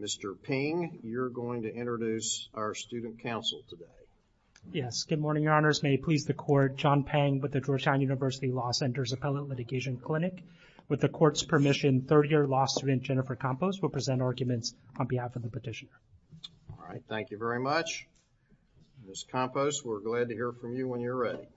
Mr. Ping, you're going to introduce our student counsel today. Yes, good morning your honors. May it please the court, John Pang with the Georgetown University Law Center's Appellate Litigation Clinic. With the court's permission, third-year law student Jennifer Campos will present arguments on behalf of the petitioner. All right, thank you very much. Ms. Campos, we're glad to hear from you when you're ready.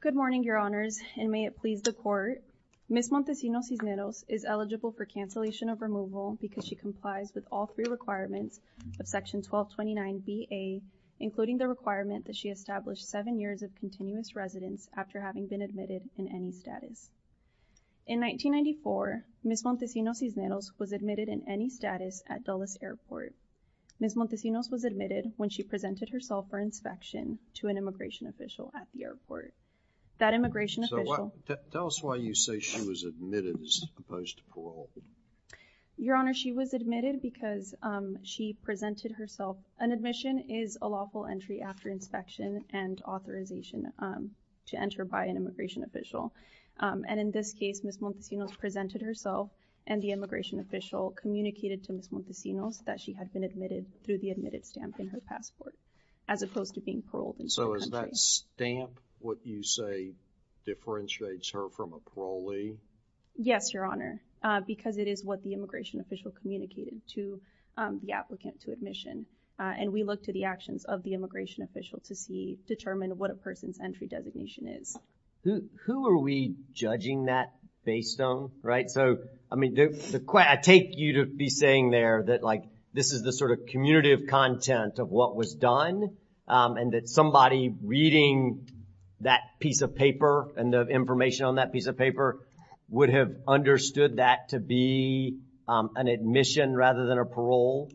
Good morning, your honors, and may it please the court. Ms. Montesinos Cisneros is eligible for cancellation of removal because she complies with all three requirements of Section 1229 B.A., including the requirement that she establish seven years of continuous residence after having been admitted in any status. In 1994, Ms. Montesinos Cisneros was admitted in any status at Dulles Airport. Ms. Montesinos was admitted when she presented herself for inspection to an immigration official at the airport. That immigration official So, tell us why you say she was admitted as opposed to paroled. Your honor, she was admitted because she presented herself. An admission is a lawful entry after inspection and authorization to enter by an immigration official. And in this case, Ms. Montesinos presented herself and the immigration official communicated to Ms. Montesinos that she had been admitted through the admitted stamp in her passport as opposed to being paroled. So, is that stamp what you say differentiates her from a parolee? Yes, your honor, because it is what the immigration official communicated to the applicant to admission. And we look to the actions of the immigration official to see, determine what a person's entry designation is. Who are we judging that based on, right? So, I mean, I take you to be saying there that like this is the sort of commutative content of what was done and that somebody reading that piece of paper and the information on that piece of paper would have understood that to be an admission rather than a parole.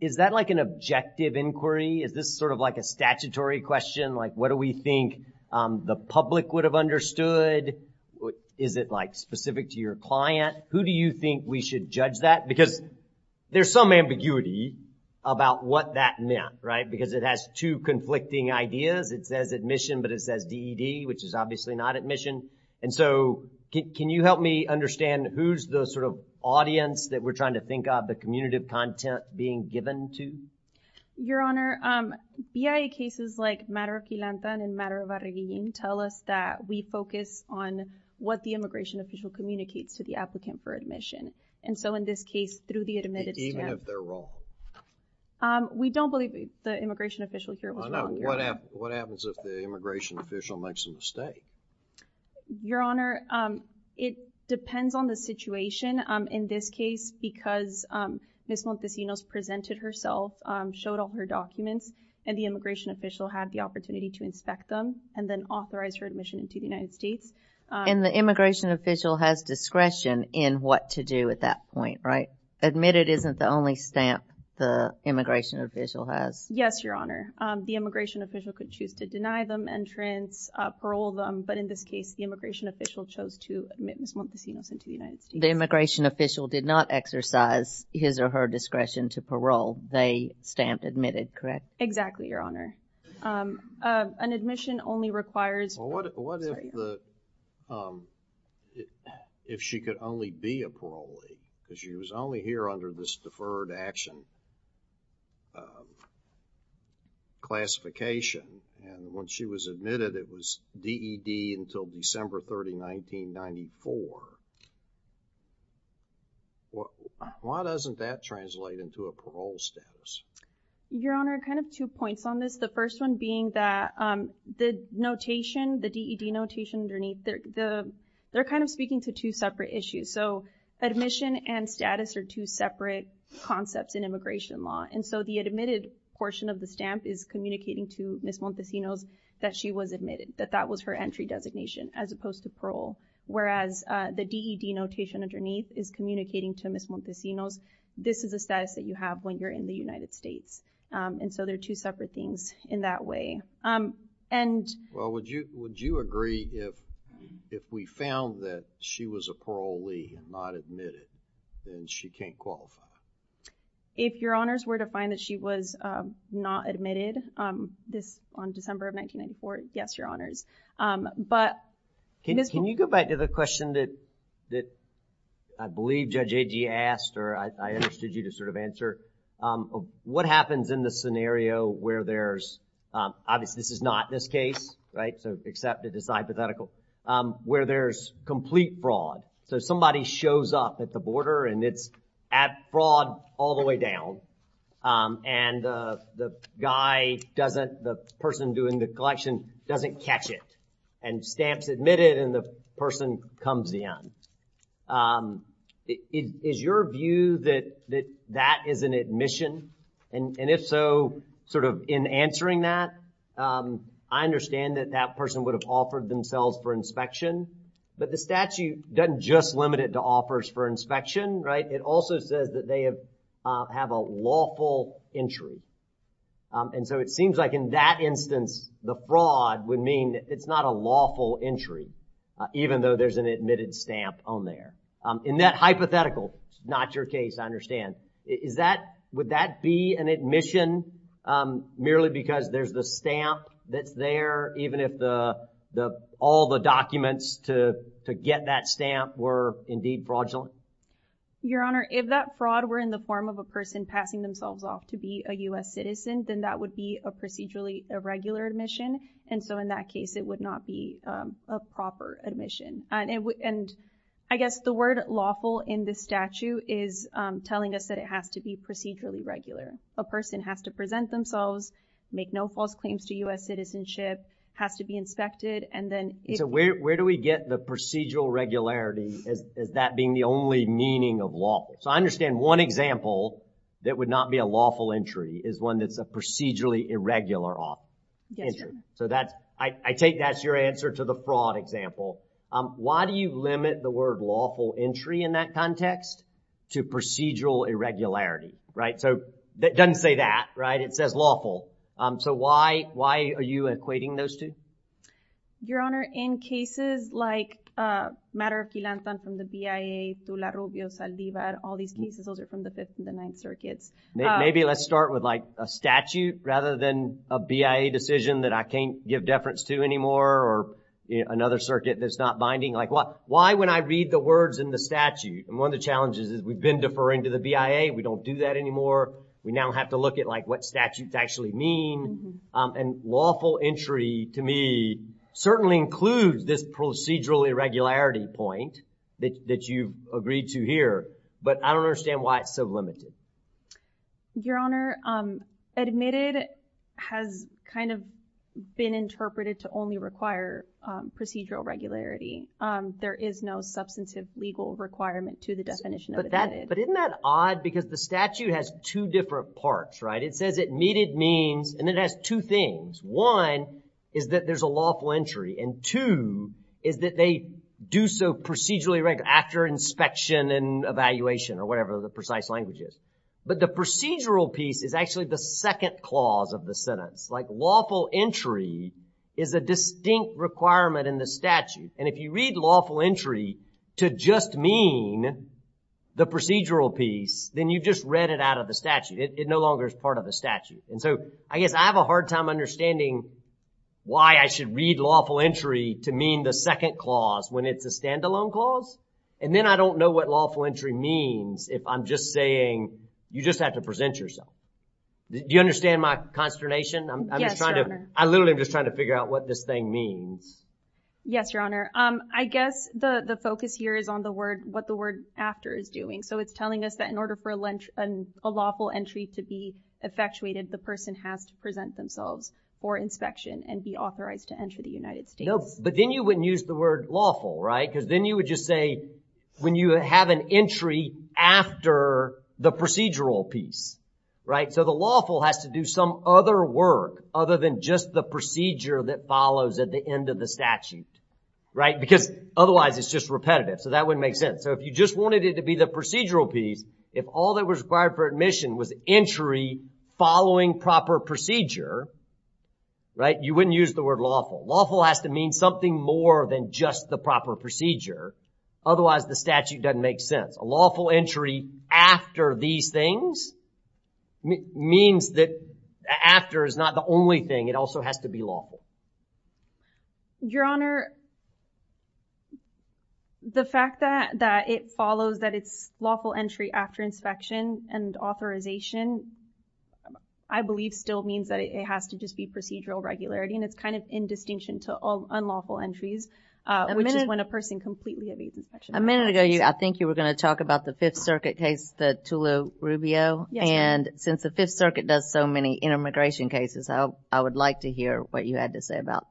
Is that like an objective inquiry? Is this sort of like a statutory question? Like, what do we think the public would have understood? Is it like specific to your client? Who do you think we should judge that? Because there's some ambiguity about what that meant, right? Because it has two conflicting ideas. It says admission, but it says DED, which is obviously not admission. And so, can you help me understand who's the sort of audience that we're trying to think of the commutative content being given to? Your honor, BIA cases like Matter of Quilantan and Matter of Arreguin tell us that we focus on what the immigration official communicates to the applicant for admission. And so, in this case, through the admitted stamp. Even if they're wrong? We don't believe the immigration official here was wrong. What happens if the immigration official makes a mistake? Your honor, it depends on the situation. In this case, because Ms. Montesinos presented herself, showed all her documents, and the immigration official had the opportunity to inspect them and then authorize her admission into the United States. And the immigration official has discretion in what to do at that point, right? Admitted isn't the only stamp the immigration official has. Yes, your honor. The immigration official could choose to deny them entrance, parole them, but in this case, the immigration official chose to admit Ms. Montesinos into the United States. The immigration official did not exercise his or her discretion to parole. They stamped admitted, correct? Exactly, your honor. An admission only requires... Well, what if the, if she could only be a parolee? Because she was only here under this deferred action classification. And when she was admitted, it was DED until December 30, 1994. Why doesn't that translate into a parole status? Your honor, kind of two points on this. The first one being that the notation, the DED notation underneath, they're kind of speaking to two separate issues. So, admission and status are two separate concepts in immigration law. And so, the admitted portion of the stamp is communicating to Ms. Montesinos that she was admitted, that that was her entry designation as opposed to parole. Whereas, the DED notation underneath is communicating to Ms. Montesinos, this is a status that you have when you're in the United States. And so, they're two separate things in that way. Well, would you agree if we found that she was a parolee and not admitted, then she can't qualify? If your honors were to find that she was not admitted on December of 1994, yes, your honors. Can you go back to the question that I believe Judge Agee asked, or I understood you to sort of answer, of what happens in the scenario where there's, obviously, this is not this case, right? So, except it is hypothetical, where there's complete fraud. So, somebody shows up at the border and it's at fraud all the way down. And the guy doesn't, the person doing the collection doesn't catch it. And stamps admitted and the person comes in. Is your view that that is an admission? And if so, sort of in answering that, I understand that that person would have offered themselves for inspection. But the statute doesn't just limit it to offers for inspection, right? It also says that they have a lawful entry. And so, it seems like in that instance, the fraud would mean it's not a lawful entry, even though there's an admitted stamp on there. In that hypothetical, not your case, I understand. Is that, would that be an admission merely because there's the stamp that's there, even if all the documents to get that stamp were indeed fraudulent? Your honor, if that fraud were in the form of a person passing themselves off to be a U.S. citizen, then that would be a procedurally irregular admission. And so, in that case, it would not be a proper admission. And I guess the word lawful in the statute is telling us that it has to be procedurally regular. A person has to present themselves, make no false claims to U.S. citizenship, has to be inspected, and then- So, where do we get the procedural regularity as that being the only meaning of lawful? So, I understand one example that would not be a lawful entry is one that's a procedurally irregular entry. So, that's, I take that's your answer to the fraud example. Why do you limit the word lawful entry in that context to procedural irregularity, right? So, that doesn't say that, right? It says lawful. So, why are you equating those two? Your honor, in cases like a matter of Philanthropy from the BIA to La Rubio, Saldivar, all these cases, those are from the Fifth and the Ninth Circuits. Maybe let's start with like a statute rather than a BIA decision that I can't give deference to anymore, or another circuit that's not binding. Like, why when I read the words in the statute, and one of the challenges is we've been deferring to the BIA, we don't do that anymore, we now have to look at like what statutes actually mean. And lawful entry to me certainly includes this procedural irregularity point that you've agreed to here, but I don't understand why it's so limited. Your honor, admitted has kind of been interpreted to only require procedural regularity. There is no substantive legal requirement to the definition of admitted. But isn't that odd? Because the statute has two different parts, right? It says admitted means, and it has two things. One is that there's a lawful entry, and two is that they do so procedurally after inspection and evaluation or whatever the precise language is. But the procedural piece is actually the second clause of the sentence. Like lawful entry is a distinct requirement in the statute. And if you read lawful entry to just mean the procedural piece, then you just read it out of the statute. It no longer is part of the statute. And so I guess I have a hard time understanding why I should read lawful entry to mean the second clause when it's a standalone clause. And then I don't know what lawful entry means if I'm just saying you just have to present yourself. Do you understand my consternation? I'm just trying to, I literally am just trying to figure out what this thing means. Yes, your honor. I guess the focus here is on the word, what the word after is doing. So it's telling us that in order for a lawful entry to be effectuated, the person has to present themselves for inspection and be authorized to enter the United States. But then you wouldn't use the word lawful, right? Because then you would just say, when you have an entry after the procedural piece, right? So the lawful has to do some other work other than just the procedure that follows at the end of the statute, right? Because otherwise, it's just repetitive. So that wouldn't make sense. So if you just wanted it to be the procedural piece, if all that was required for admission was entry following proper procedure, right, you wouldn't use the word lawful. Lawful has to mean something more than just the proper procedure. Otherwise, the statute doesn't make sense. A lawful entry after these things means that after is not the only thing. It also has to be lawful. Your honor, the fact that it follows that it's lawful entry after inspection and authorization, I believe still means that it has to just be procedural regularity. And it's kind of in distinction to all unlawful entries, which is when a person completely evades inspection. A minute ago, I think you were going to talk about the Fifth Circuit case, the Tullio-Rubio. And since the Fifth Circuit does so many intermigration cases, I would like to hear what you had to say about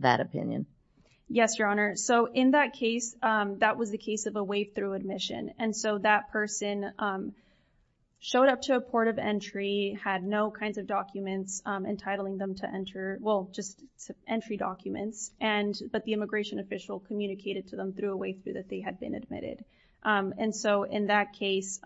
that opinion. Yes, your honor. So in that case, that was the case of a way through admission. And so that person showed up to a port of entry, had no kinds of documents entitling them to enter, well, just entry documents. But the immigration official communicated to them through a way through that they had been admitted. And so in that case,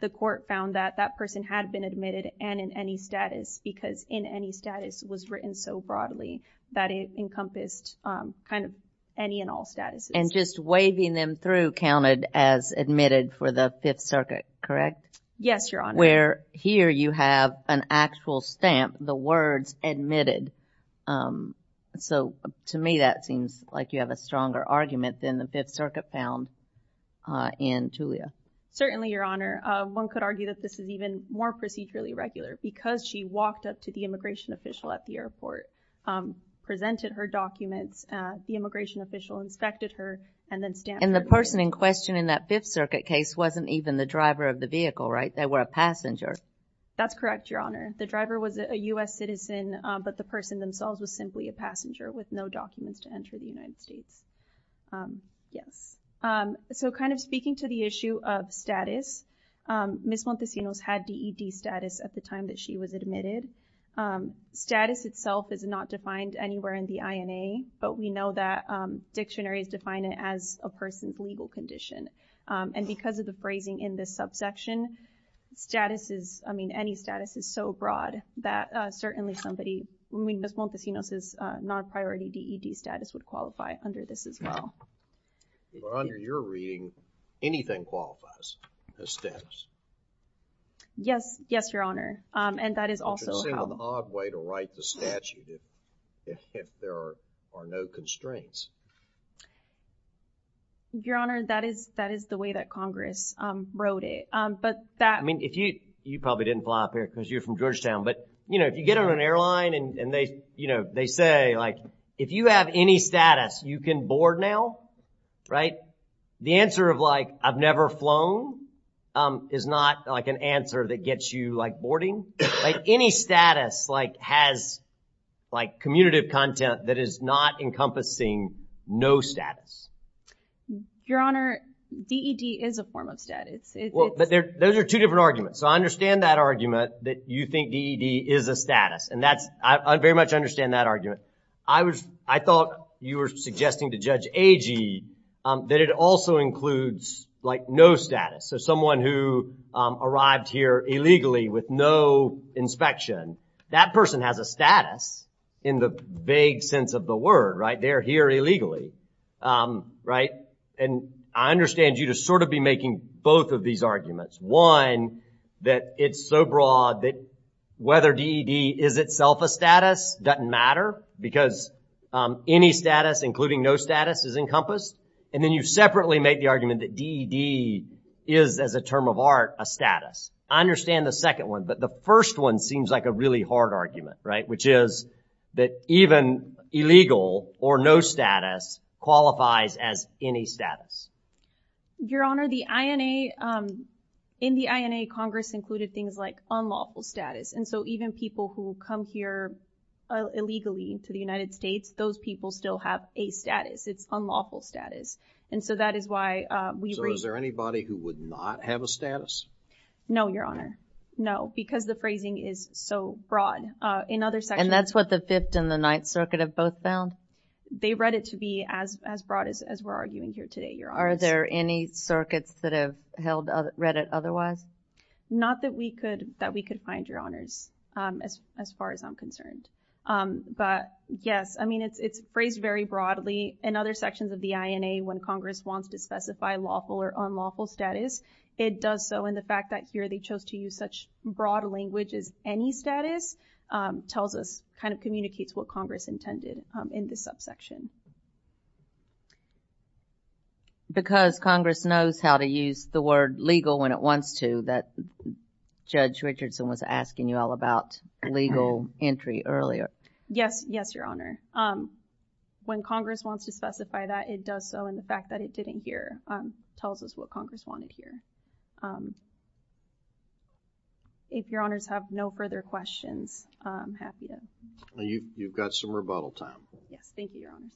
the court found that that person had been admitted and in any status because in any status was written so broadly that it encompassed kind of any and all statuses. And just waving them through counted as admitted for the Fifth Circuit, correct? Yes, your honor. Where here you have an actual stamp, the words admitted. So to me, that seems like you have a stronger argument than the Fifth Circuit found in Tullio. Certainly, your honor. One could argue that this is even more procedurally regular because she walked up to the immigration official at the airport, presented her documents, the immigration official inspected her, and then stamped her. And the person in question in that Fifth Circuit case wasn't even the driver of the vehicle, right? They were a passenger. That's correct, your honor. The driver was a U.S. citizen, but the person themselves was simply a passenger with no documents to enter the United States. Yes. So kind of speaking to the issue of status, Ms. Montesinos had DED status at the time that she was admitted. Status itself is not defined anywhere in the INA, but we know that dictionaries define it as a person's legal condition. And because of the phrasing in this subsection, status is, I mean, any status is so broad that certainly somebody, Ms. Montesinos' non-priority DED status would qualify under this as well. But under your reading, anything qualifies as status. Yes. Yes, your honor. And that is also how... I'm just saying an odd way to write the statute if there are no constraints. Your honor, that is the way that Congress wrote it. But that... I mean, you probably didn't fly up here because you're from Georgetown, but, you know, if you get on an airline and they, you know, they say, like, if you have any status, you can board now, right? The answer of, like, I've never flown is not, like, an answer that gets you, like, boarding. Like, any status, like, has, like, commutative content that is not encompassing no status. Your honor, DED is a form of status. Those are two different arguments. So I understand that argument that you think DED is a status. And that's... I very much understand that argument. I was... I thought you were suggesting to Judge Agee that it also includes, like, no status. So someone who arrived here illegally with no inspection, that person has a status in the vague sense of the word, right? They're here illegally, right? And I understand you to sort of be making both of these arguments. One, that it's so broad that whether DED is itself a status doesn't matter because any status, including no status, is encompassed. And then you separately make the argument that DED is, as a term of art, a status. I understand the second one, but the first one seems like a really hard argument, right? Which is that even illegal or no status qualifies as any status. Your honor, the INA... in the INA, Congress included things like unlawful status. And so even people who come here illegally to the United States, those people still have a status. It's unlawful status. And so that is why we... So is there anybody who would not have a status? No, your honor. No, because the phrasing is so broad. In other sections... And that's what the Fifth and the Ninth Circuit have both found? They read it to be as broad as we're arguing here today, your honor. Are there any circuits that have read it otherwise? Not that we could find, your honors, as far as I'm concerned. But yes, I mean, it's phrased very broadly. In other sections of the INA, when Congress wants to specify lawful or unlawful status, it does so. And the fact that here they chose to use such broad language as any status tells us, kind of communicates what Congress intended in this subsection. Because Congress knows how to use the word legal when it wants to, that Judge Richardson was asking you all about legal entry earlier. Yes, yes, your honor. When Congress wants to specify that, it does so. And the fact that it didn't here tells us what Congress wanted here. If your honors have no further questions, I'm happy to... You've got some rebuttal time. Yes, thank you, your honors.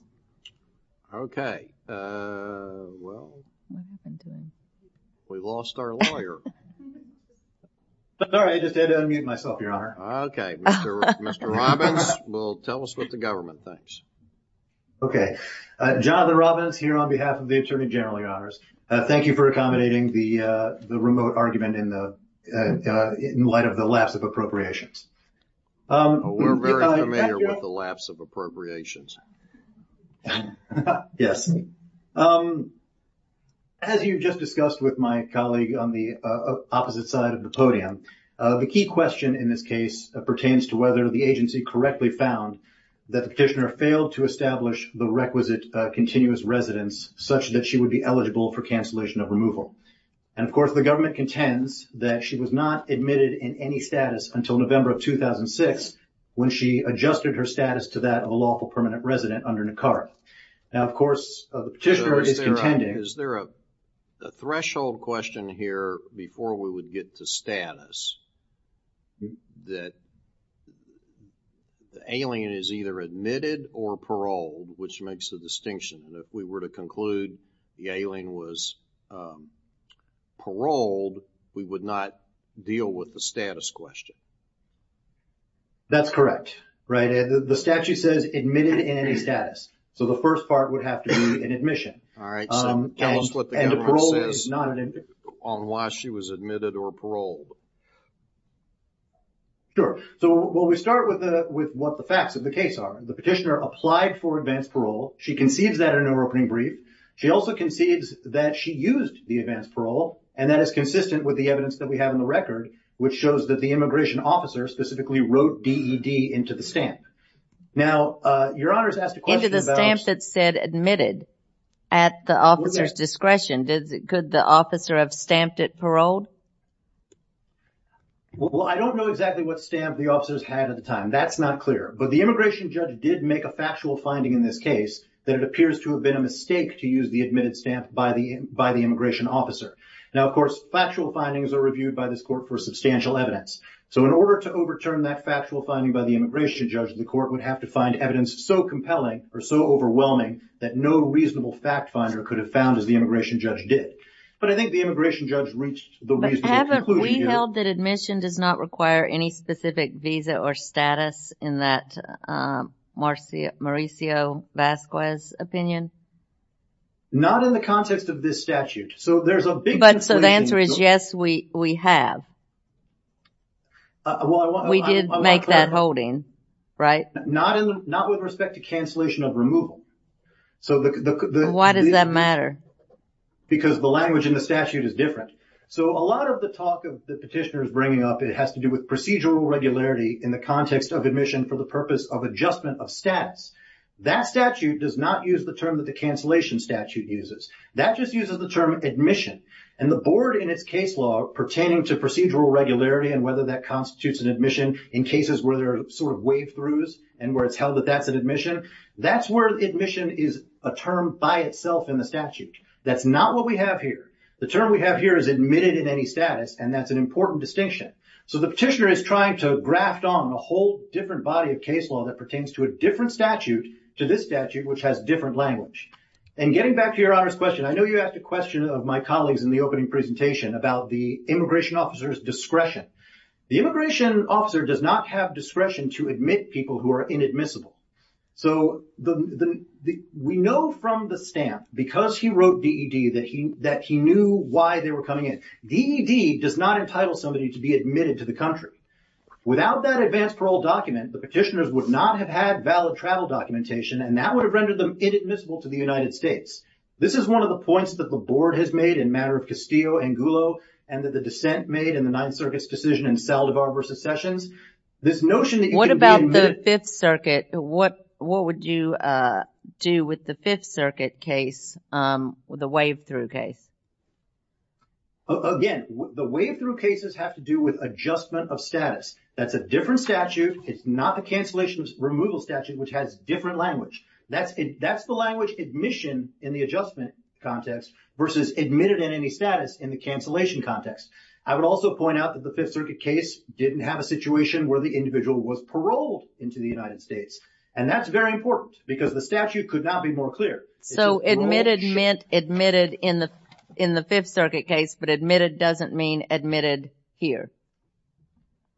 Okay. Well, we've lost our lawyer. Sorry, I just had to unmute myself, your honor. Okay. Mr. Robbins will tell us what the government thinks. Okay. Jonathan Robbins here on behalf of the Attorney General, your honors. Thank you for accommodating the remote argument in light of the lapse of appropriations. We're very familiar with the lapse of appropriations. Yes. As you just discussed with my colleague on the opposite side of the podium, the key question in this case pertains to whether the agency correctly found that the petitioner failed to establish the requisite continuous residence such that she would be eligible for cancellation of removal. And of course, the government contends that she was not admitted in any status until November of 2006 when she adjusted her status to that of a lawful permanent resident under NACAR. Now, of course, the petitioner is contending... Is there a threshold question here before we would get to status that the alien is either admitted or paroled, which makes the distinction that if we were to conclude the alien was paroled, we would not deal with the status question? That's correct. The statute says admitted in any status. So, the first part would have to be an admission. All right. So, tell us what the government says on why she was admitted or paroled. Sure. So, well, we start with what the facts of the case are. The petitioner applied for advanced parole. She concedes that in her opening brief. She also concedes that she used the advanced parole, and that is consistent with the evidence that we have in the record, which shows that the immigration officer specifically wrote DED into the stamp. Now, Your Honor has asked a question about... Into the stamp that said admitted at the officer's discretion. Could the officer have stamped it paroled? Well, I don't know exactly what stamp the officers had at the time. That's not clear. But the immigration judge did make a factual finding in this case that it appears to have been a mistake to use the admitted stamp by the immigration officer. Now, of course, factual findings are reviewed by this court for substantial evidence. So, in order to overturn that factual finding by the immigration judge, the court would have to find evidence so compelling or so overwhelming that no reasonable fact finder could have found as the immigration judge did. But I think the immigration judge reached the reasonable conclusion... But haven't we held that admission does not require any specific visa or status in that Mauricio Vasquez opinion? Not in the context of this statute. So, there's a big... The answer is yes, we have. We did make that holding, right? Not with respect to cancellation of removal. Why does that matter? Because the language in the statute is different. So, a lot of the talk of the petitioner is bringing up, it has to do with procedural regularity in the context of admission for the purpose of adjustment of status. That statute does not use the term that the cancellation statute uses. That just uses the term admission. And the board in its case law pertaining to procedural regularity and whether that constitutes an admission in cases where there are sort of wave throughs and where it's held that that's an admission, that's where admission is a term by itself in the statute. That's not what we have here. The term we have here is admitted in any status and that's an important distinction. So, the petitioner is trying to graft on a whole different body of case law that pertains to a different statute to this statute which has different language. And getting back to your honor's question, I know you asked a question of my colleagues in the opening presentation about the immigration officer's discretion. The immigration officer does not have discretion to admit people who are inadmissible. So, we know from the stamp because he wrote DED that he knew why they were coming in. DED does not entitle somebody to be admitted to the country. Without that advance parole document, the petitioners would not have had valid travel documentation and that would have rendered them inadmissible to the United States. This is one of the points that the board has made in matter of Castillo and Gullo and that the dissent made in the Ninth Circuit's decision in Saldivar v. Sessions. This notion that you can be admitted... What about the Fifth Circuit? What would you do with the Fifth Circuit case, with the wave through case? Again, the wave through cases have to do with adjustment of status. That's a different statute. It's not the cancellation removal statute which has different language. That's the language admission in the adjustment context versus admitted in any status in the cancellation context. I would also point out that the Fifth Circuit case didn't have a situation where the individual was paroled into the United States. And that's very important because the statute could not be more clear. So, admitted meant admitted in the Fifth Circuit case, but admitted doesn't mean admitted here.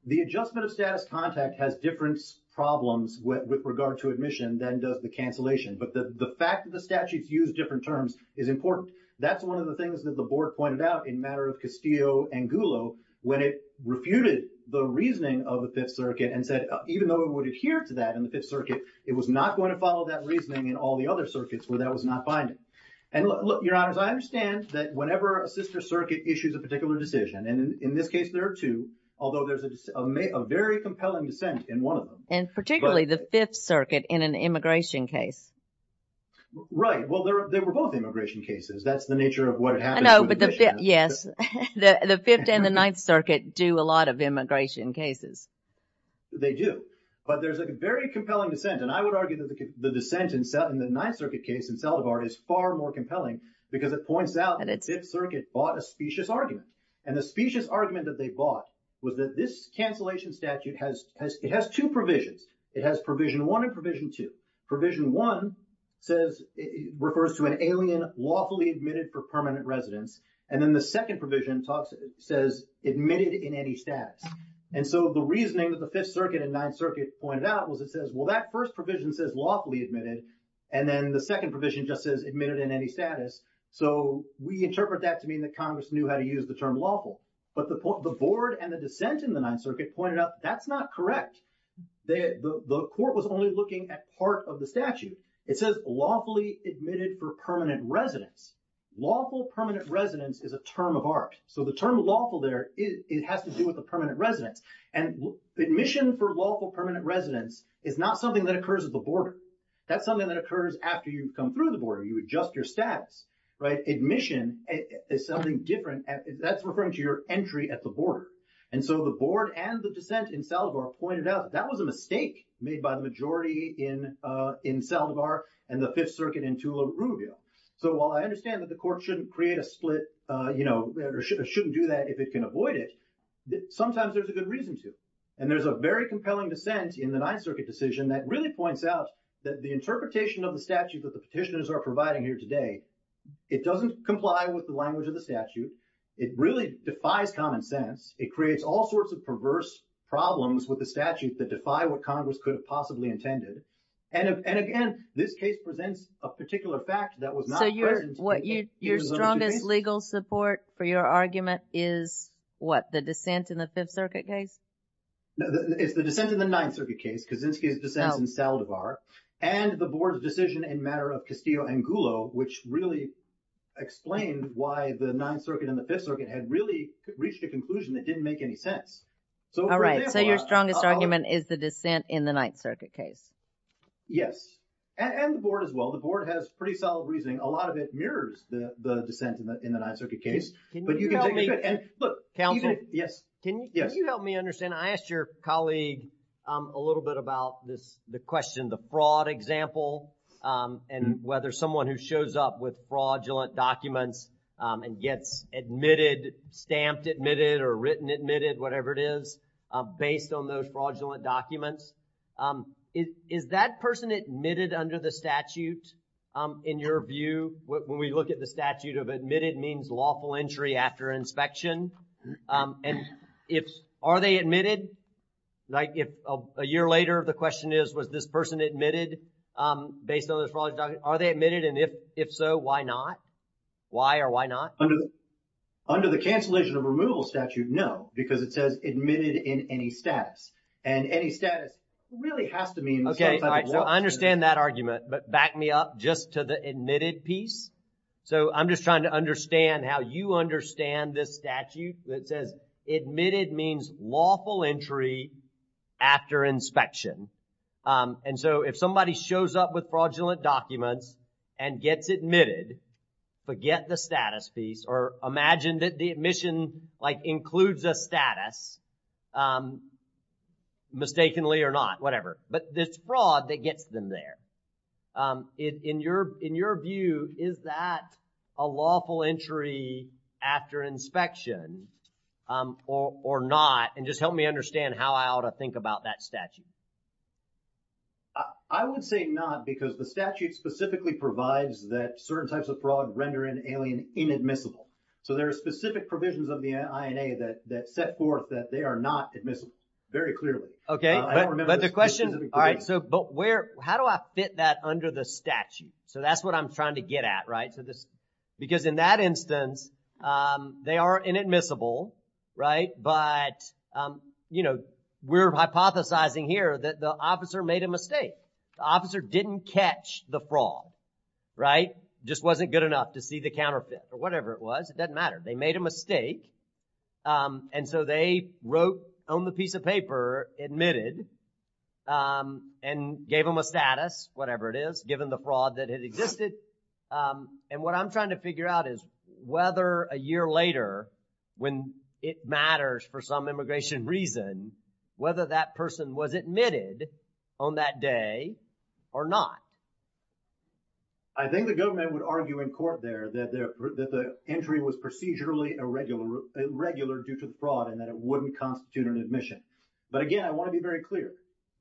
The adjustment of status context has different problems with regard to admission than does the cancellation. But the fact that the statutes use different terms is important. That's one of the things that the board pointed out in matter of Castillo and Gullo when it refuted the reasoning of the Fifth Circuit and said even though it would adhere to that in the other circuits where that was not binding. And look, your honors, I understand that whenever a sister circuit issues a particular decision, and in this case, there are two, although there's a very compelling dissent in one of them. And particularly the Fifth Circuit in an immigration case. Right. Well, they were both immigration cases. That's the nature of what it happens. I know, but the Fifth, yes. The Fifth and the Ninth Circuit do a lot of immigration cases. They do. But there's a very compelling dissent, and I would argue that the dissent in the Ninth Circuit case in Saldivar is far more compelling because it points out that the Fifth Circuit bought a specious argument. And the specious argument that they bought was that this cancellation statute has two provisions. It has Provision 1 and Provision 2. Provision 1 refers to an alien lawfully admitted for permanent residence. And then the second provision says admitted in any status. And so the reasoning that the Fifth Circuit and Ninth Circuit pointed out was it says, well, that first provision says lawfully admitted. And then the second provision just says admitted in any status. So we interpret that to mean that Congress knew how to use the term lawful. But the board and the dissent in the Ninth Circuit pointed out that's not correct. The court was only looking at part of the statute. It says lawfully admitted for permanent residence. Lawful permanent residence is a term of art. So the term lawful there, it has to do with the permanent residence. And admission for lawful permanent residence is not something that occurs at the border. That's something that occurs after you come through the border. You adjust your status, right? Admission is something different. That's referring to your entry at the border. And so the board and the dissent in Saldivar pointed out that that was a mistake made by the majority in Saldivar and the Fifth Circuit in Tula, Uruguay. So while I understand that the court shouldn't create a split, you know, or shouldn't do that if it can avoid it, sometimes there's a good reason to. And there's a very compelling dissent in the Ninth Circuit decision that really points out that the interpretation of the statute that the petitioners are providing here today, it doesn't comply with the language of the statute. It really defies common sense. It creates all sorts of perverse problems with the statute that defy what Congress could have possibly intended. And again, this case presents a particular fact that was not present. So your strongest legal support for your argument is what, the dissent in the Fifth Circuit case? It's the dissent in the Ninth Circuit case, Kaczynski's dissent in Saldivar, and the board's decision in matter of Castillo and Gullo, which really explained why the Ninth Circuit and the Fifth Circuit had really reached a conclusion that didn't make any sense. All right. So your strongest argument is the dissent in the Ninth Circuit case? Yes. And the board as well. The board has pretty solid reasoning. A lot of it mirrors the dissent in the Ninth Circuit case. Counsel? Can you help me understand? I asked your colleague a little bit about the question, the fraud example, and whether someone who shows up with fraudulent documents and gets admitted, stamped admitted, or written admitted, whatever it is, based on those fraudulent documents, is that person admitted under the statute in your view? When we look at the statute of admitted, it means lawful entry after inspection. And if, are they admitted? Like if a year later, the question is, was this person admitted based on those fraudulent documents? Are they admitted? And if so, why not? Why or why not? Under the cancellation of removal statute, no. Because it says admitted in any status. And any status really has to mean some type of law. So I'm just trying to understand how you understand this statute that says admitted means lawful entry after inspection. And so if somebody shows up with fraudulent documents and gets admitted, forget the status piece, or imagine that the admission like includes a status, mistakenly or not, whatever. But it's fraud that gets them there. In your view, is that a lawful entry after inspection or not? And just help me understand how I ought to think about that statute. I would say not because the statute specifically provides that certain types of fraud render an alien inadmissible. So there are specific provisions of the INA that set forth that they are not admissible, very clearly. Okay. But the question, all right, so but where, how do I fit that under the statute? So that's what I'm trying to get at, right? Because in that instance, they are inadmissible, right? But, you know, we're hypothesizing here that the officer made a mistake. The officer didn't catch the fraud, right? Just wasn't good enough to see the counterfeit or whatever it was. It doesn't matter. They made a mistake. And so they wrote on the piece of paper, admitted, and gave them a status, whatever it is, given the fraud that had existed. And what I'm trying to figure out is whether a year later, when it matters for some immigration reason, whether that person was admitted on that day or not. I think the government would argue in court there that the entry was procedurally irregular due to the fraud and that it wouldn't constitute an admission. But again, I want to be very clear.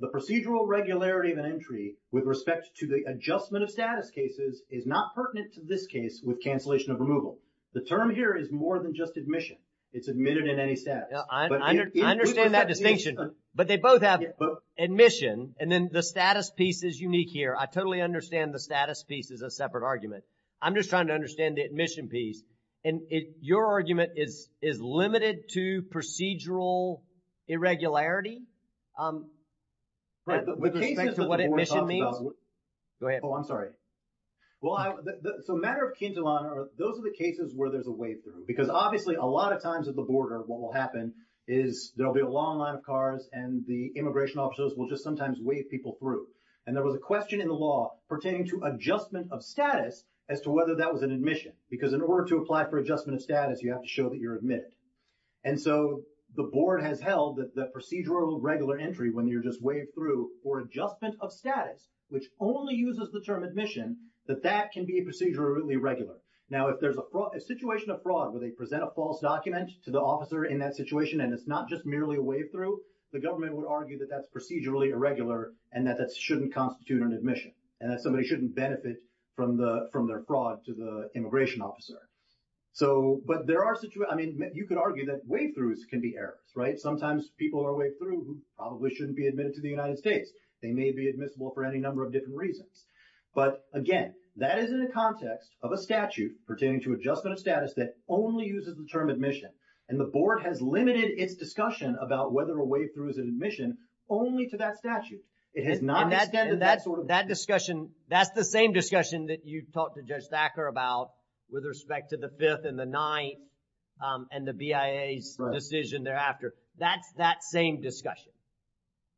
The procedural regularity of an entry with respect to the adjustment of status cases is not pertinent to this case with cancellation of removal. The term here is more than just admission. It's admitted in any status. I understand that distinction, but they both have admission, and then the status piece is unique here. I totally understand the status piece is a separate argument. I'm just trying to understand the admission piece. And your argument is limited to procedural irregularity? Right. With respect to what admission means? Go ahead. Oh, I'm sorry. So matter of quintilano, those are the cases where there's a way through. Because obviously, a lot of times at the border, what will happen is there'll be a long line of cars, and the immigration officers will just sometimes wave people through. And there was a question in the law pertaining to adjustment of status as to whether that was an admission. Because in order to apply for adjustment of status, you have to show that you're admitted. And so the board has held that the procedural regular entry, when you're just waved through for adjustment of status, which only uses the term admission, that that can be procedurally irregular. Now, if there's a situation of fraud where they present a false document to the officer in that situation, and it's not just merely a way through, the government would argue that that's procedurally irregular and that that shouldn't constitute an admission and that somebody shouldn't benefit from their fraud to the immigration officer. So, but there are situations, I mean, you could argue that way throughs can be errors, right? Sometimes people are waved through who probably shouldn't be admitted to the United States. They may be admissible for any number of different reasons. But again, that is in the context of a statute pertaining to adjustment of status that only uses the term admission. And the board has limited its discussion about whether a way through is an admission only to that statute. It has not extended that sort of- And that discussion, that's the same discussion that you've talked to Judge Thacker about with respect to the Fifth and the Ninth and the BIA's decision thereafter. That's that same discussion.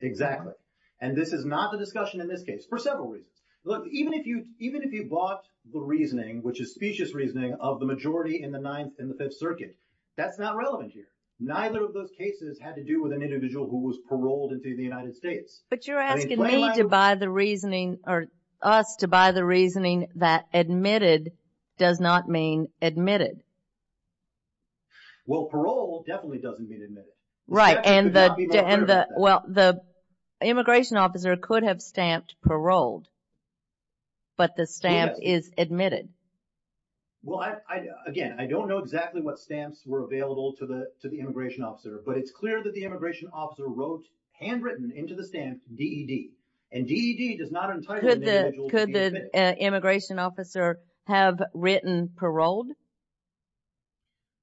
Exactly. And this is not the discussion in this case, for several reasons. Look, even if you bought the reasoning, which is specious reasoning, of the majority in the Fifth Circuit, that's not relevant here. Neither of those cases had to do with an individual who was paroled into the United States. But you're asking me to buy the reasoning, or us, to buy the reasoning that admitted does not mean admitted. Well, paroled definitely doesn't mean admitted. Right, and the immigration officer could have stamped paroled, but the stamp is admitted. Well, again, I don't know exactly what stamps were available to the immigration officer, but it's clear that the immigration officer wrote, handwritten into the stamp, D.E.D. And D.E.D. does not entitle an individual to be admitted. Could the immigration officer have written paroled?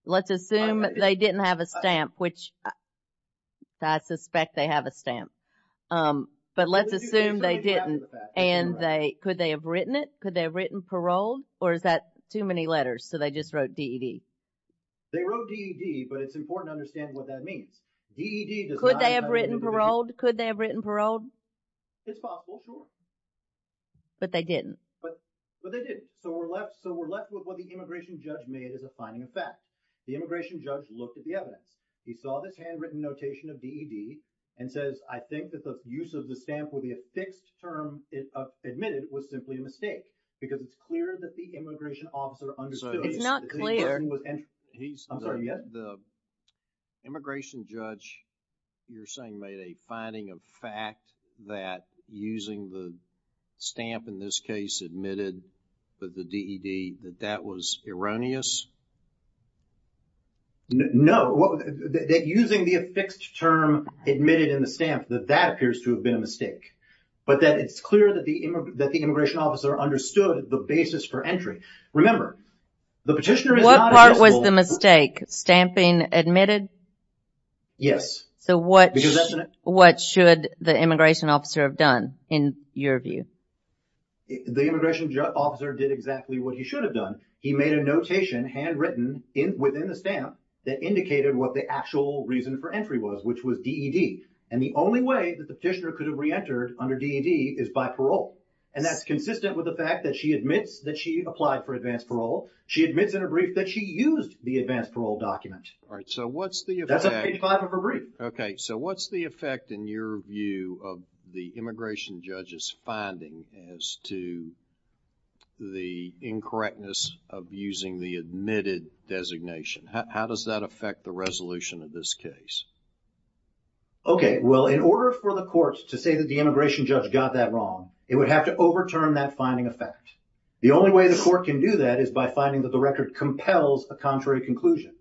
Let's assume they didn't have a stamp, which I suspect they have a stamp. But let's assume they didn't, and could they have written it? Could they have written paroled? Or is that too many letters, so they just wrote D.E.D.? They wrote D.E.D., but it's important to understand what that means. D.E.D. does not entitle an individual to be admitted. Could they have written paroled? Could they have written paroled? It's possible, sure. But they didn't. But they didn't. So we're left with what the immigration judge made as a finding of fact. The immigration judge looked at the evidence. He saw this handwritten notation of D.E.D. and says, I think that the use of the stamp will be a fixed term admitted was simply a mistake, because it's clear that the immigration officer understood that the information was The immigration judge, you're saying, made a finding of fact that using the stamp in this case admitted that the D.E.D., that that was erroneous? No. That using the fixed term admitted in the stamp, that that appears to have been a mistake, but that it's clear that the immigration officer understood the basis for entry. Remember, the petitioner is not admissible. What part was the mistake? Stamping admitted? Yes. So what should the immigration officer have done, in your view? The immigration officer did exactly what he should have done. He made a notation, handwritten within the stamp, that indicated what the actual reason for entry was, which was D.E.D. And the only way that the petitioner could have reentered under D.E.D. is by parole. And that's consistent with the fact that she admits that she applied for advanced parole. She admits in her brief that she used the advanced parole document. All right. So what's the effect? That's in page five of her brief. Okay. So what's the effect, in your view, of the immigration judge's finding as to the incorrectness of using the admitted designation? How does that affect the resolution of this case? Okay. Well, in order for the court to say that the immigration judge got that wrong, it would have to overturn that finding of fact. The only way the court can do that is by finding that the record compels a contrary conclusion.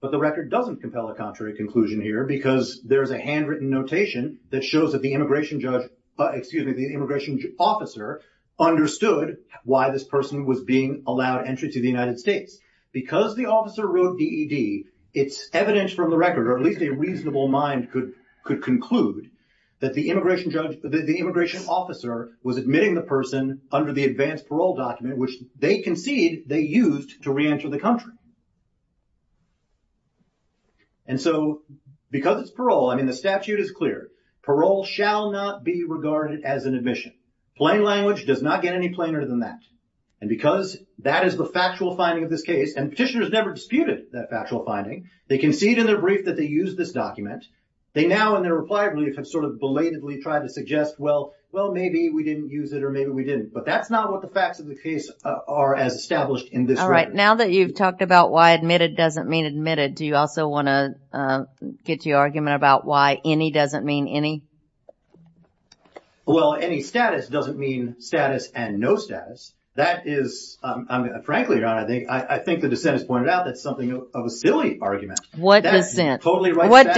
But the record doesn't compel a contrary conclusion here because there is a handwritten notation that shows that the immigration judge, excuse me, the immigration officer understood why this person was being allowed entry to the United States. Because the officer wrote D.E.D., it's evident from the record, or at least a reasonable mind could conclude, that the immigration judge, the immigration officer, was admitting the person under the advanced parole document, which they concede they used to reenter the country. And so because it's parole, I mean, the statute is clear. Parole shall not be regarded as an admission. Plain language does not get any plainer than that. And because that is the factual finding of this case, and petitioners never disputed that factual finding, they concede in their brief that they used this document. They now, in their reply brief, have sort of belatedly tried to suggest, well, maybe we didn't use it or maybe we didn't. But that's not what the facts of the case are as established in this record. Alright, now that you've talked about why admitted doesn't mean admitted, do you also want to get to your argument about why any doesn't mean any? Well, any status doesn't mean status and no status. That is, frankly, I think the dissenters pointed out that's something of a silly argument. What dissent? That's totally right.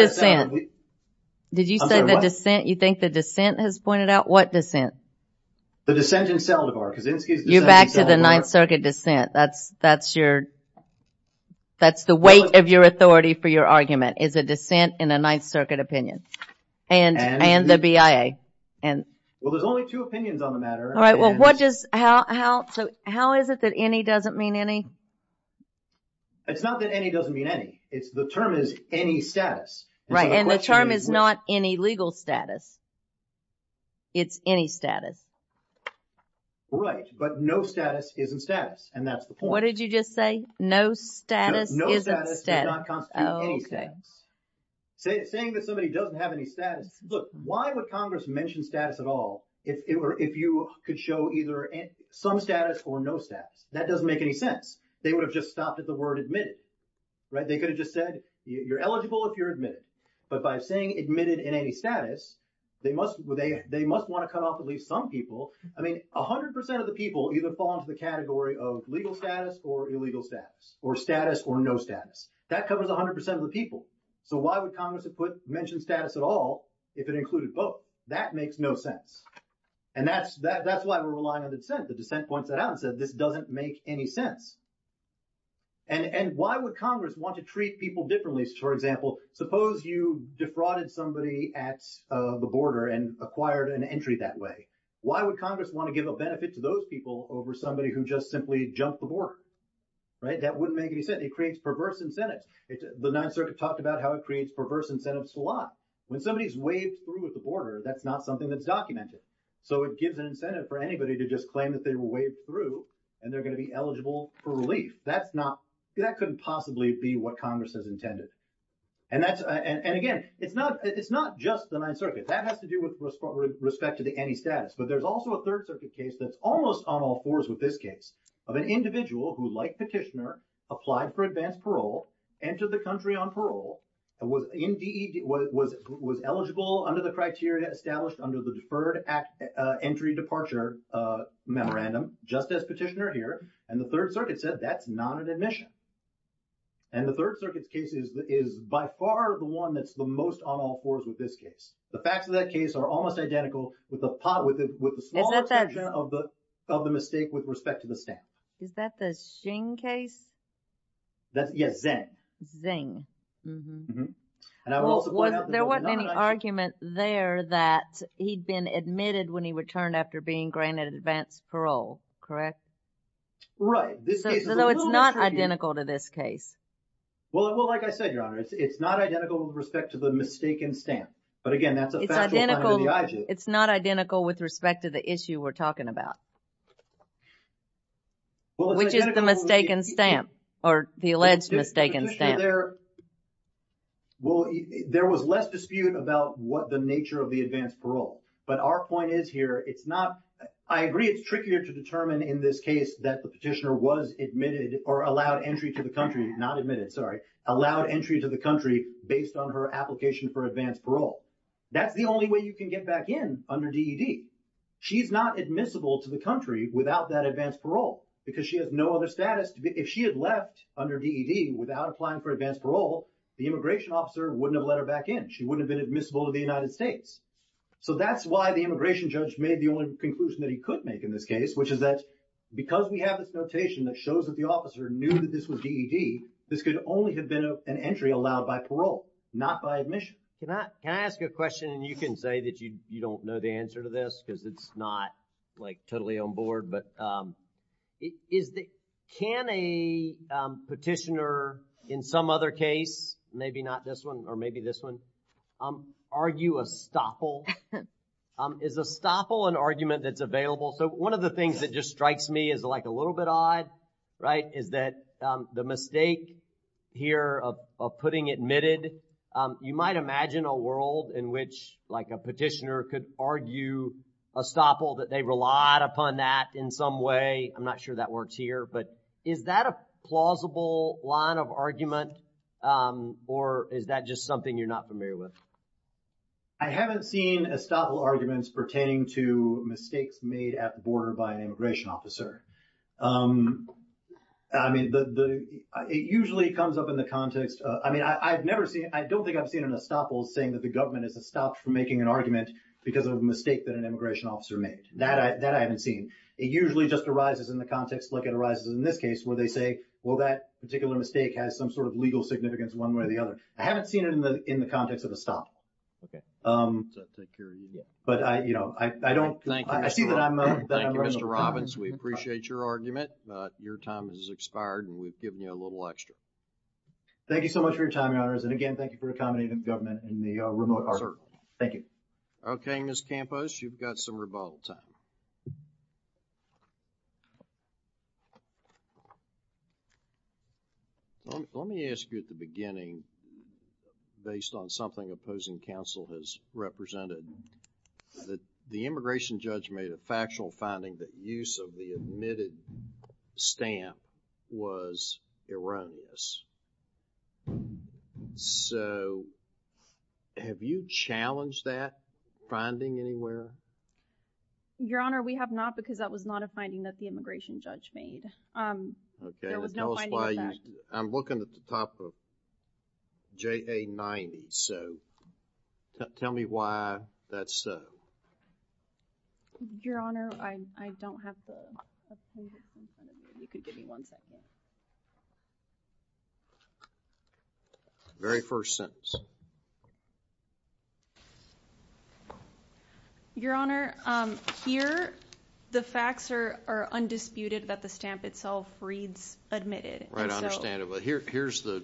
Did you say the dissent? You think the dissent has pointed out? What dissent? The dissent in Seldavar. You're back to the Ninth Circuit dissent. That's the weight of your authority for your argument is a dissent in a Ninth Circuit opinion. And the BIA. Well, there's only two opinions on the matter. Alright, so how is it that any doesn't mean any? It's not that any doesn't mean any. It's the term is any status. Right, and the term is not any legal status. It's any status. Right, but no status isn't status, and that's the point. What did you just say? No status isn't status. No status does not constitute any status. Saying that somebody doesn't have any status, look, why would Congress mention status at all if you could show either some status or no status? That doesn't make any sense. They would have just stopped at the word admitted. They could have just said you're eligible if you're admitted. But by saying admitted in any status, they must want to cut off at least some people. I mean, 100% of the people either fall into the category of legal status or illegal status, or status or no status. That covers 100% of the people. So why would Congress mention status at all if it included both? That makes no sense, and that's why we're relying on dissent. The dissent points that out and says this doesn't make any sense. And why would Congress want to treat people differently? For example, suppose you defrauded somebody at the border and acquired an entry that way. Why would Congress want to give a benefit to those people over somebody who just simply jumped the border? Right, that wouldn't make any sense. It creates perverse incentives. The Ninth Circuit talked about how it creates perverse incentives a lot. When somebody's waived through at the border, that's not something that's documented. So it gives an incentive for anybody to just claim that they were waived through, and they're going to be eligible for relief. That couldn't possibly be what Congress has intended. And again, it's not just the Ninth Circuit. That has to do with respect to the any status. But there's also a Third Circuit case that's almost on all fours with this case of an individual who, like Petitioner, applied for advanced parole, entered the country on parole, was indeed, was eligible under the criteria established under the Deferred Entry Departure Memorandum, just as Petitioner here, and the Third Circuit said that's not an admission. And the Third Circuit's case is by far the one that's the most on all fours with this case. The facts of that case are almost identical with the small exception of the mistake with respect to the status. Is that the Xing case? Yes, Xing. There wasn't any argument there that he'd been admitted when he returned after being granted advanced parole, correct? Right. So it's not identical to this case. Well, like I said, Your Honor, it's not identical with respect to the mistaken stamp. But again, that's a factual point of the IG. It's not identical with respect to the issue we're talking about, which is the mistaken stamp, or the alleged mistaken stamp. Well, there was less dispute about what the nature of the advanced parole. But our point is here, it's not, I agree it's trickier to determine in this case that the petitioner was admitted or allowed entry to the country, not admitted, sorry, allowed entry to the country based on her application for advanced parole. That's the only way you can get back in under DED. She's not admissible to the country without that advanced parole because she has no other status. If she had left under DED without applying for advanced parole, the immigration officer wouldn't have let her back in. She wouldn't have been admissible to the United States. So that's why the immigration judge made the only conclusion that he could make in this case, which is that because we have this notation that shows that the officer knew that this was DED, this could only have been an entry allowed by parole, not by admission. Can I ask a question? And you can say that you don't know the answer to this because it's not like totally on board, but can a petitioner in some other case, maybe not this one or maybe this one, argue a stoffel? Is a stoffel an argument that's available? So one of the things that just strikes me as like a little bit odd, right, is that the mistake here of putting admitted, you might imagine a world in which like a petitioner could argue a stoffel that they relied upon that in some way. I'm not sure that works here. But is that a plausible line of argument or is that just something you're not familiar with? I haven't seen a stoffel arguments pertaining to mistakes made at the border by an immigration officer. I mean, it usually comes up in the context. I mean, I've never seen it. I don't think I've seen a stoffel saying that the government is stopped from making an argument because of a mistake that an immigration officer made. That I haven't seen. It usually just arises in the context like it arises in this case where they say, well, that particular mistake has some sort of legal significance one way or the other. I haven't seen it in the context of a stoffel. Okay. I'll take care of you then. But I, you know, I don't. I see that I'm. Thank you, Mr. Robbins. We appreciate your argument. Your time has expired and we've given you a little extra. Thank you so much for your time, Your Honors. And again, thank you for accommodating the government in the remote part. Sir. Thank you. Okay, Ms. Campos, you've got some rebuttal time. Let me ask you at the beginning, based on something opposing counsel has represented, that the immigration judge made a factual finding that use of the admitted stamp was erroneous. So, have you challenged that finding anywhere? Your Honor, we have not because that was not a finding that the immigration judge made. Okay. There was no finding of that. I'm looking at the top of JA 90. So, tell me why that's so. Your Honor, I don't have the. You can give me one second. Very first sentence. Your Honor, here the facts are undisputed that the stamp itself reads admitted. Right, I understand it. But here's the,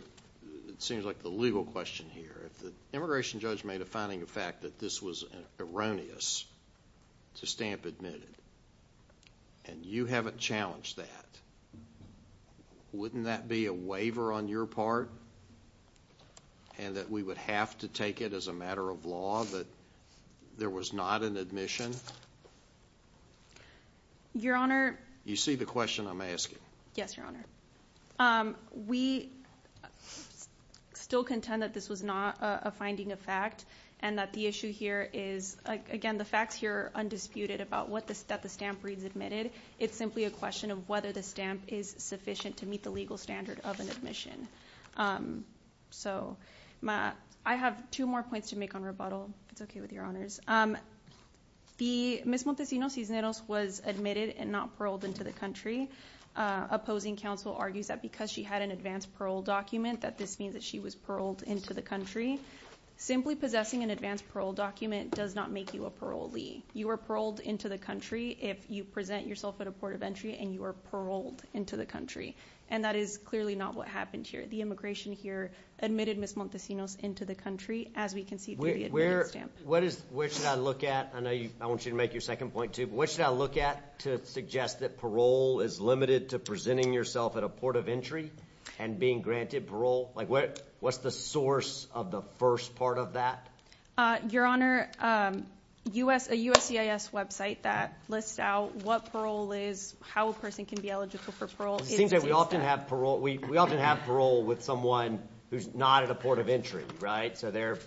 it seems like the legal question here. If the immigration judge made a finding of fact that this was erroneous to stamp admitted and you haven't challenged that, wouldn't that be a waiver on your part and that we would have to take it as a matter of law that there was not an admission? Your Honor. You see the question I'm asking? Yes, Your Honor. We still contend that this was not a finding of fact and that the issue here is, again, the facts here are undisputed about what the stamp reads admitted. It's simply a question of whether the stamp is sufficient to meet the legal standard of an admission. So, I have two more points to make on rebuttal. It's okay with Your Honors. Ms. Montesinos-Cisneros was admitted and not paroled into the country. Opposing counsel argues that because she had an advanced parole document that this means that she was paroled into the country. Simply possessing an advanced parole document does not make you a parolee. You are paroled into the country if you present yourself at a port of entry and you are paroled into the country. And that is clearly not what happened here. The immigration here admitted Ms. Montesinos into the country as we can see through the admitted stamp. Where should I look at? I know I want you to make your second point too. What should I look at to suggest that parole is limited to presenting yourself at a port of entry and being granted parole? What's the source of the first part of that? Your Honor, a USCIS website that lists out what parole is, how a person can be eligible for parole. It seems that we often have parole with someone who's not at a port of entry, right? So they're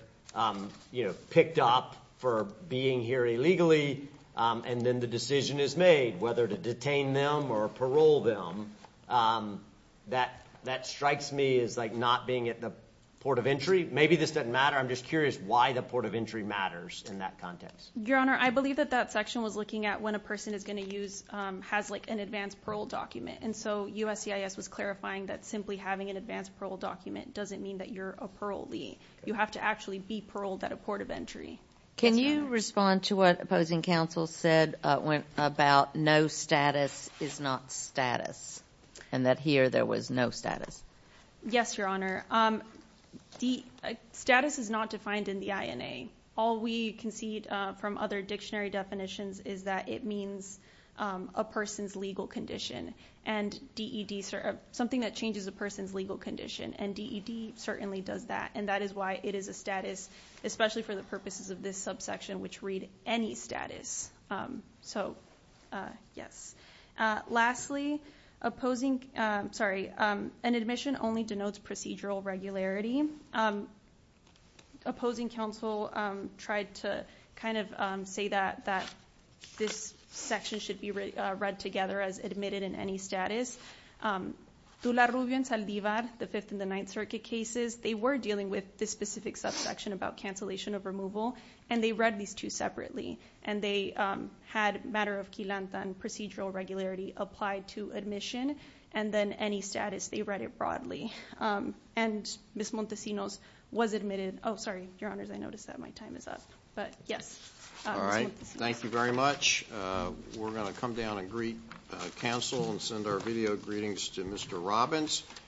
picked up for being here illegally and then the decision is made whether to detain them or parole them. That strikes me as like not being at the port of entry. Maybe this doesn't matter. I'm just curious why the port of entry matters in that context. Your Honor, I believe that that section was looking at when a person is going to use, has like an advanced parole document. And so USCIS was clarifying that simply having an advanced parole document doesn't mean that you're a parolee. You have to actually be paroled at a port of entry. Can you respond to what opposing counsel said about no status is not status and that here there was no status? Yes, Your Honor. The status is not defined in the INA. All we can see from other dictionary definitions is that it means a person's legal condition. And something that changes a person's legal condition. And DED certainly does that. And that is why it is a status, especially for the purposes of this subsection, which read any status. So, yes. Lastly, an admission only denotes procedural regularity. Opposing counsel tried to kind of say that this section should be read together as admitted in any status. Dula Rubio and Saldivar, the Fifth and the Ninth Circuit cases, they were dealing with this specific subsection about cancellation of removal. And they read these two separately. And they had matter of quilanta and procedural regularity applied to admission. And then any status, they read it broadly. And Ms. Montesinos was admitted. Oh, sorry, Your Honors, I noticed that my time is up. But, yes. All right. Thank you very much. We're going to come down and greet counsel and send our video greetings to Mr. Robbins.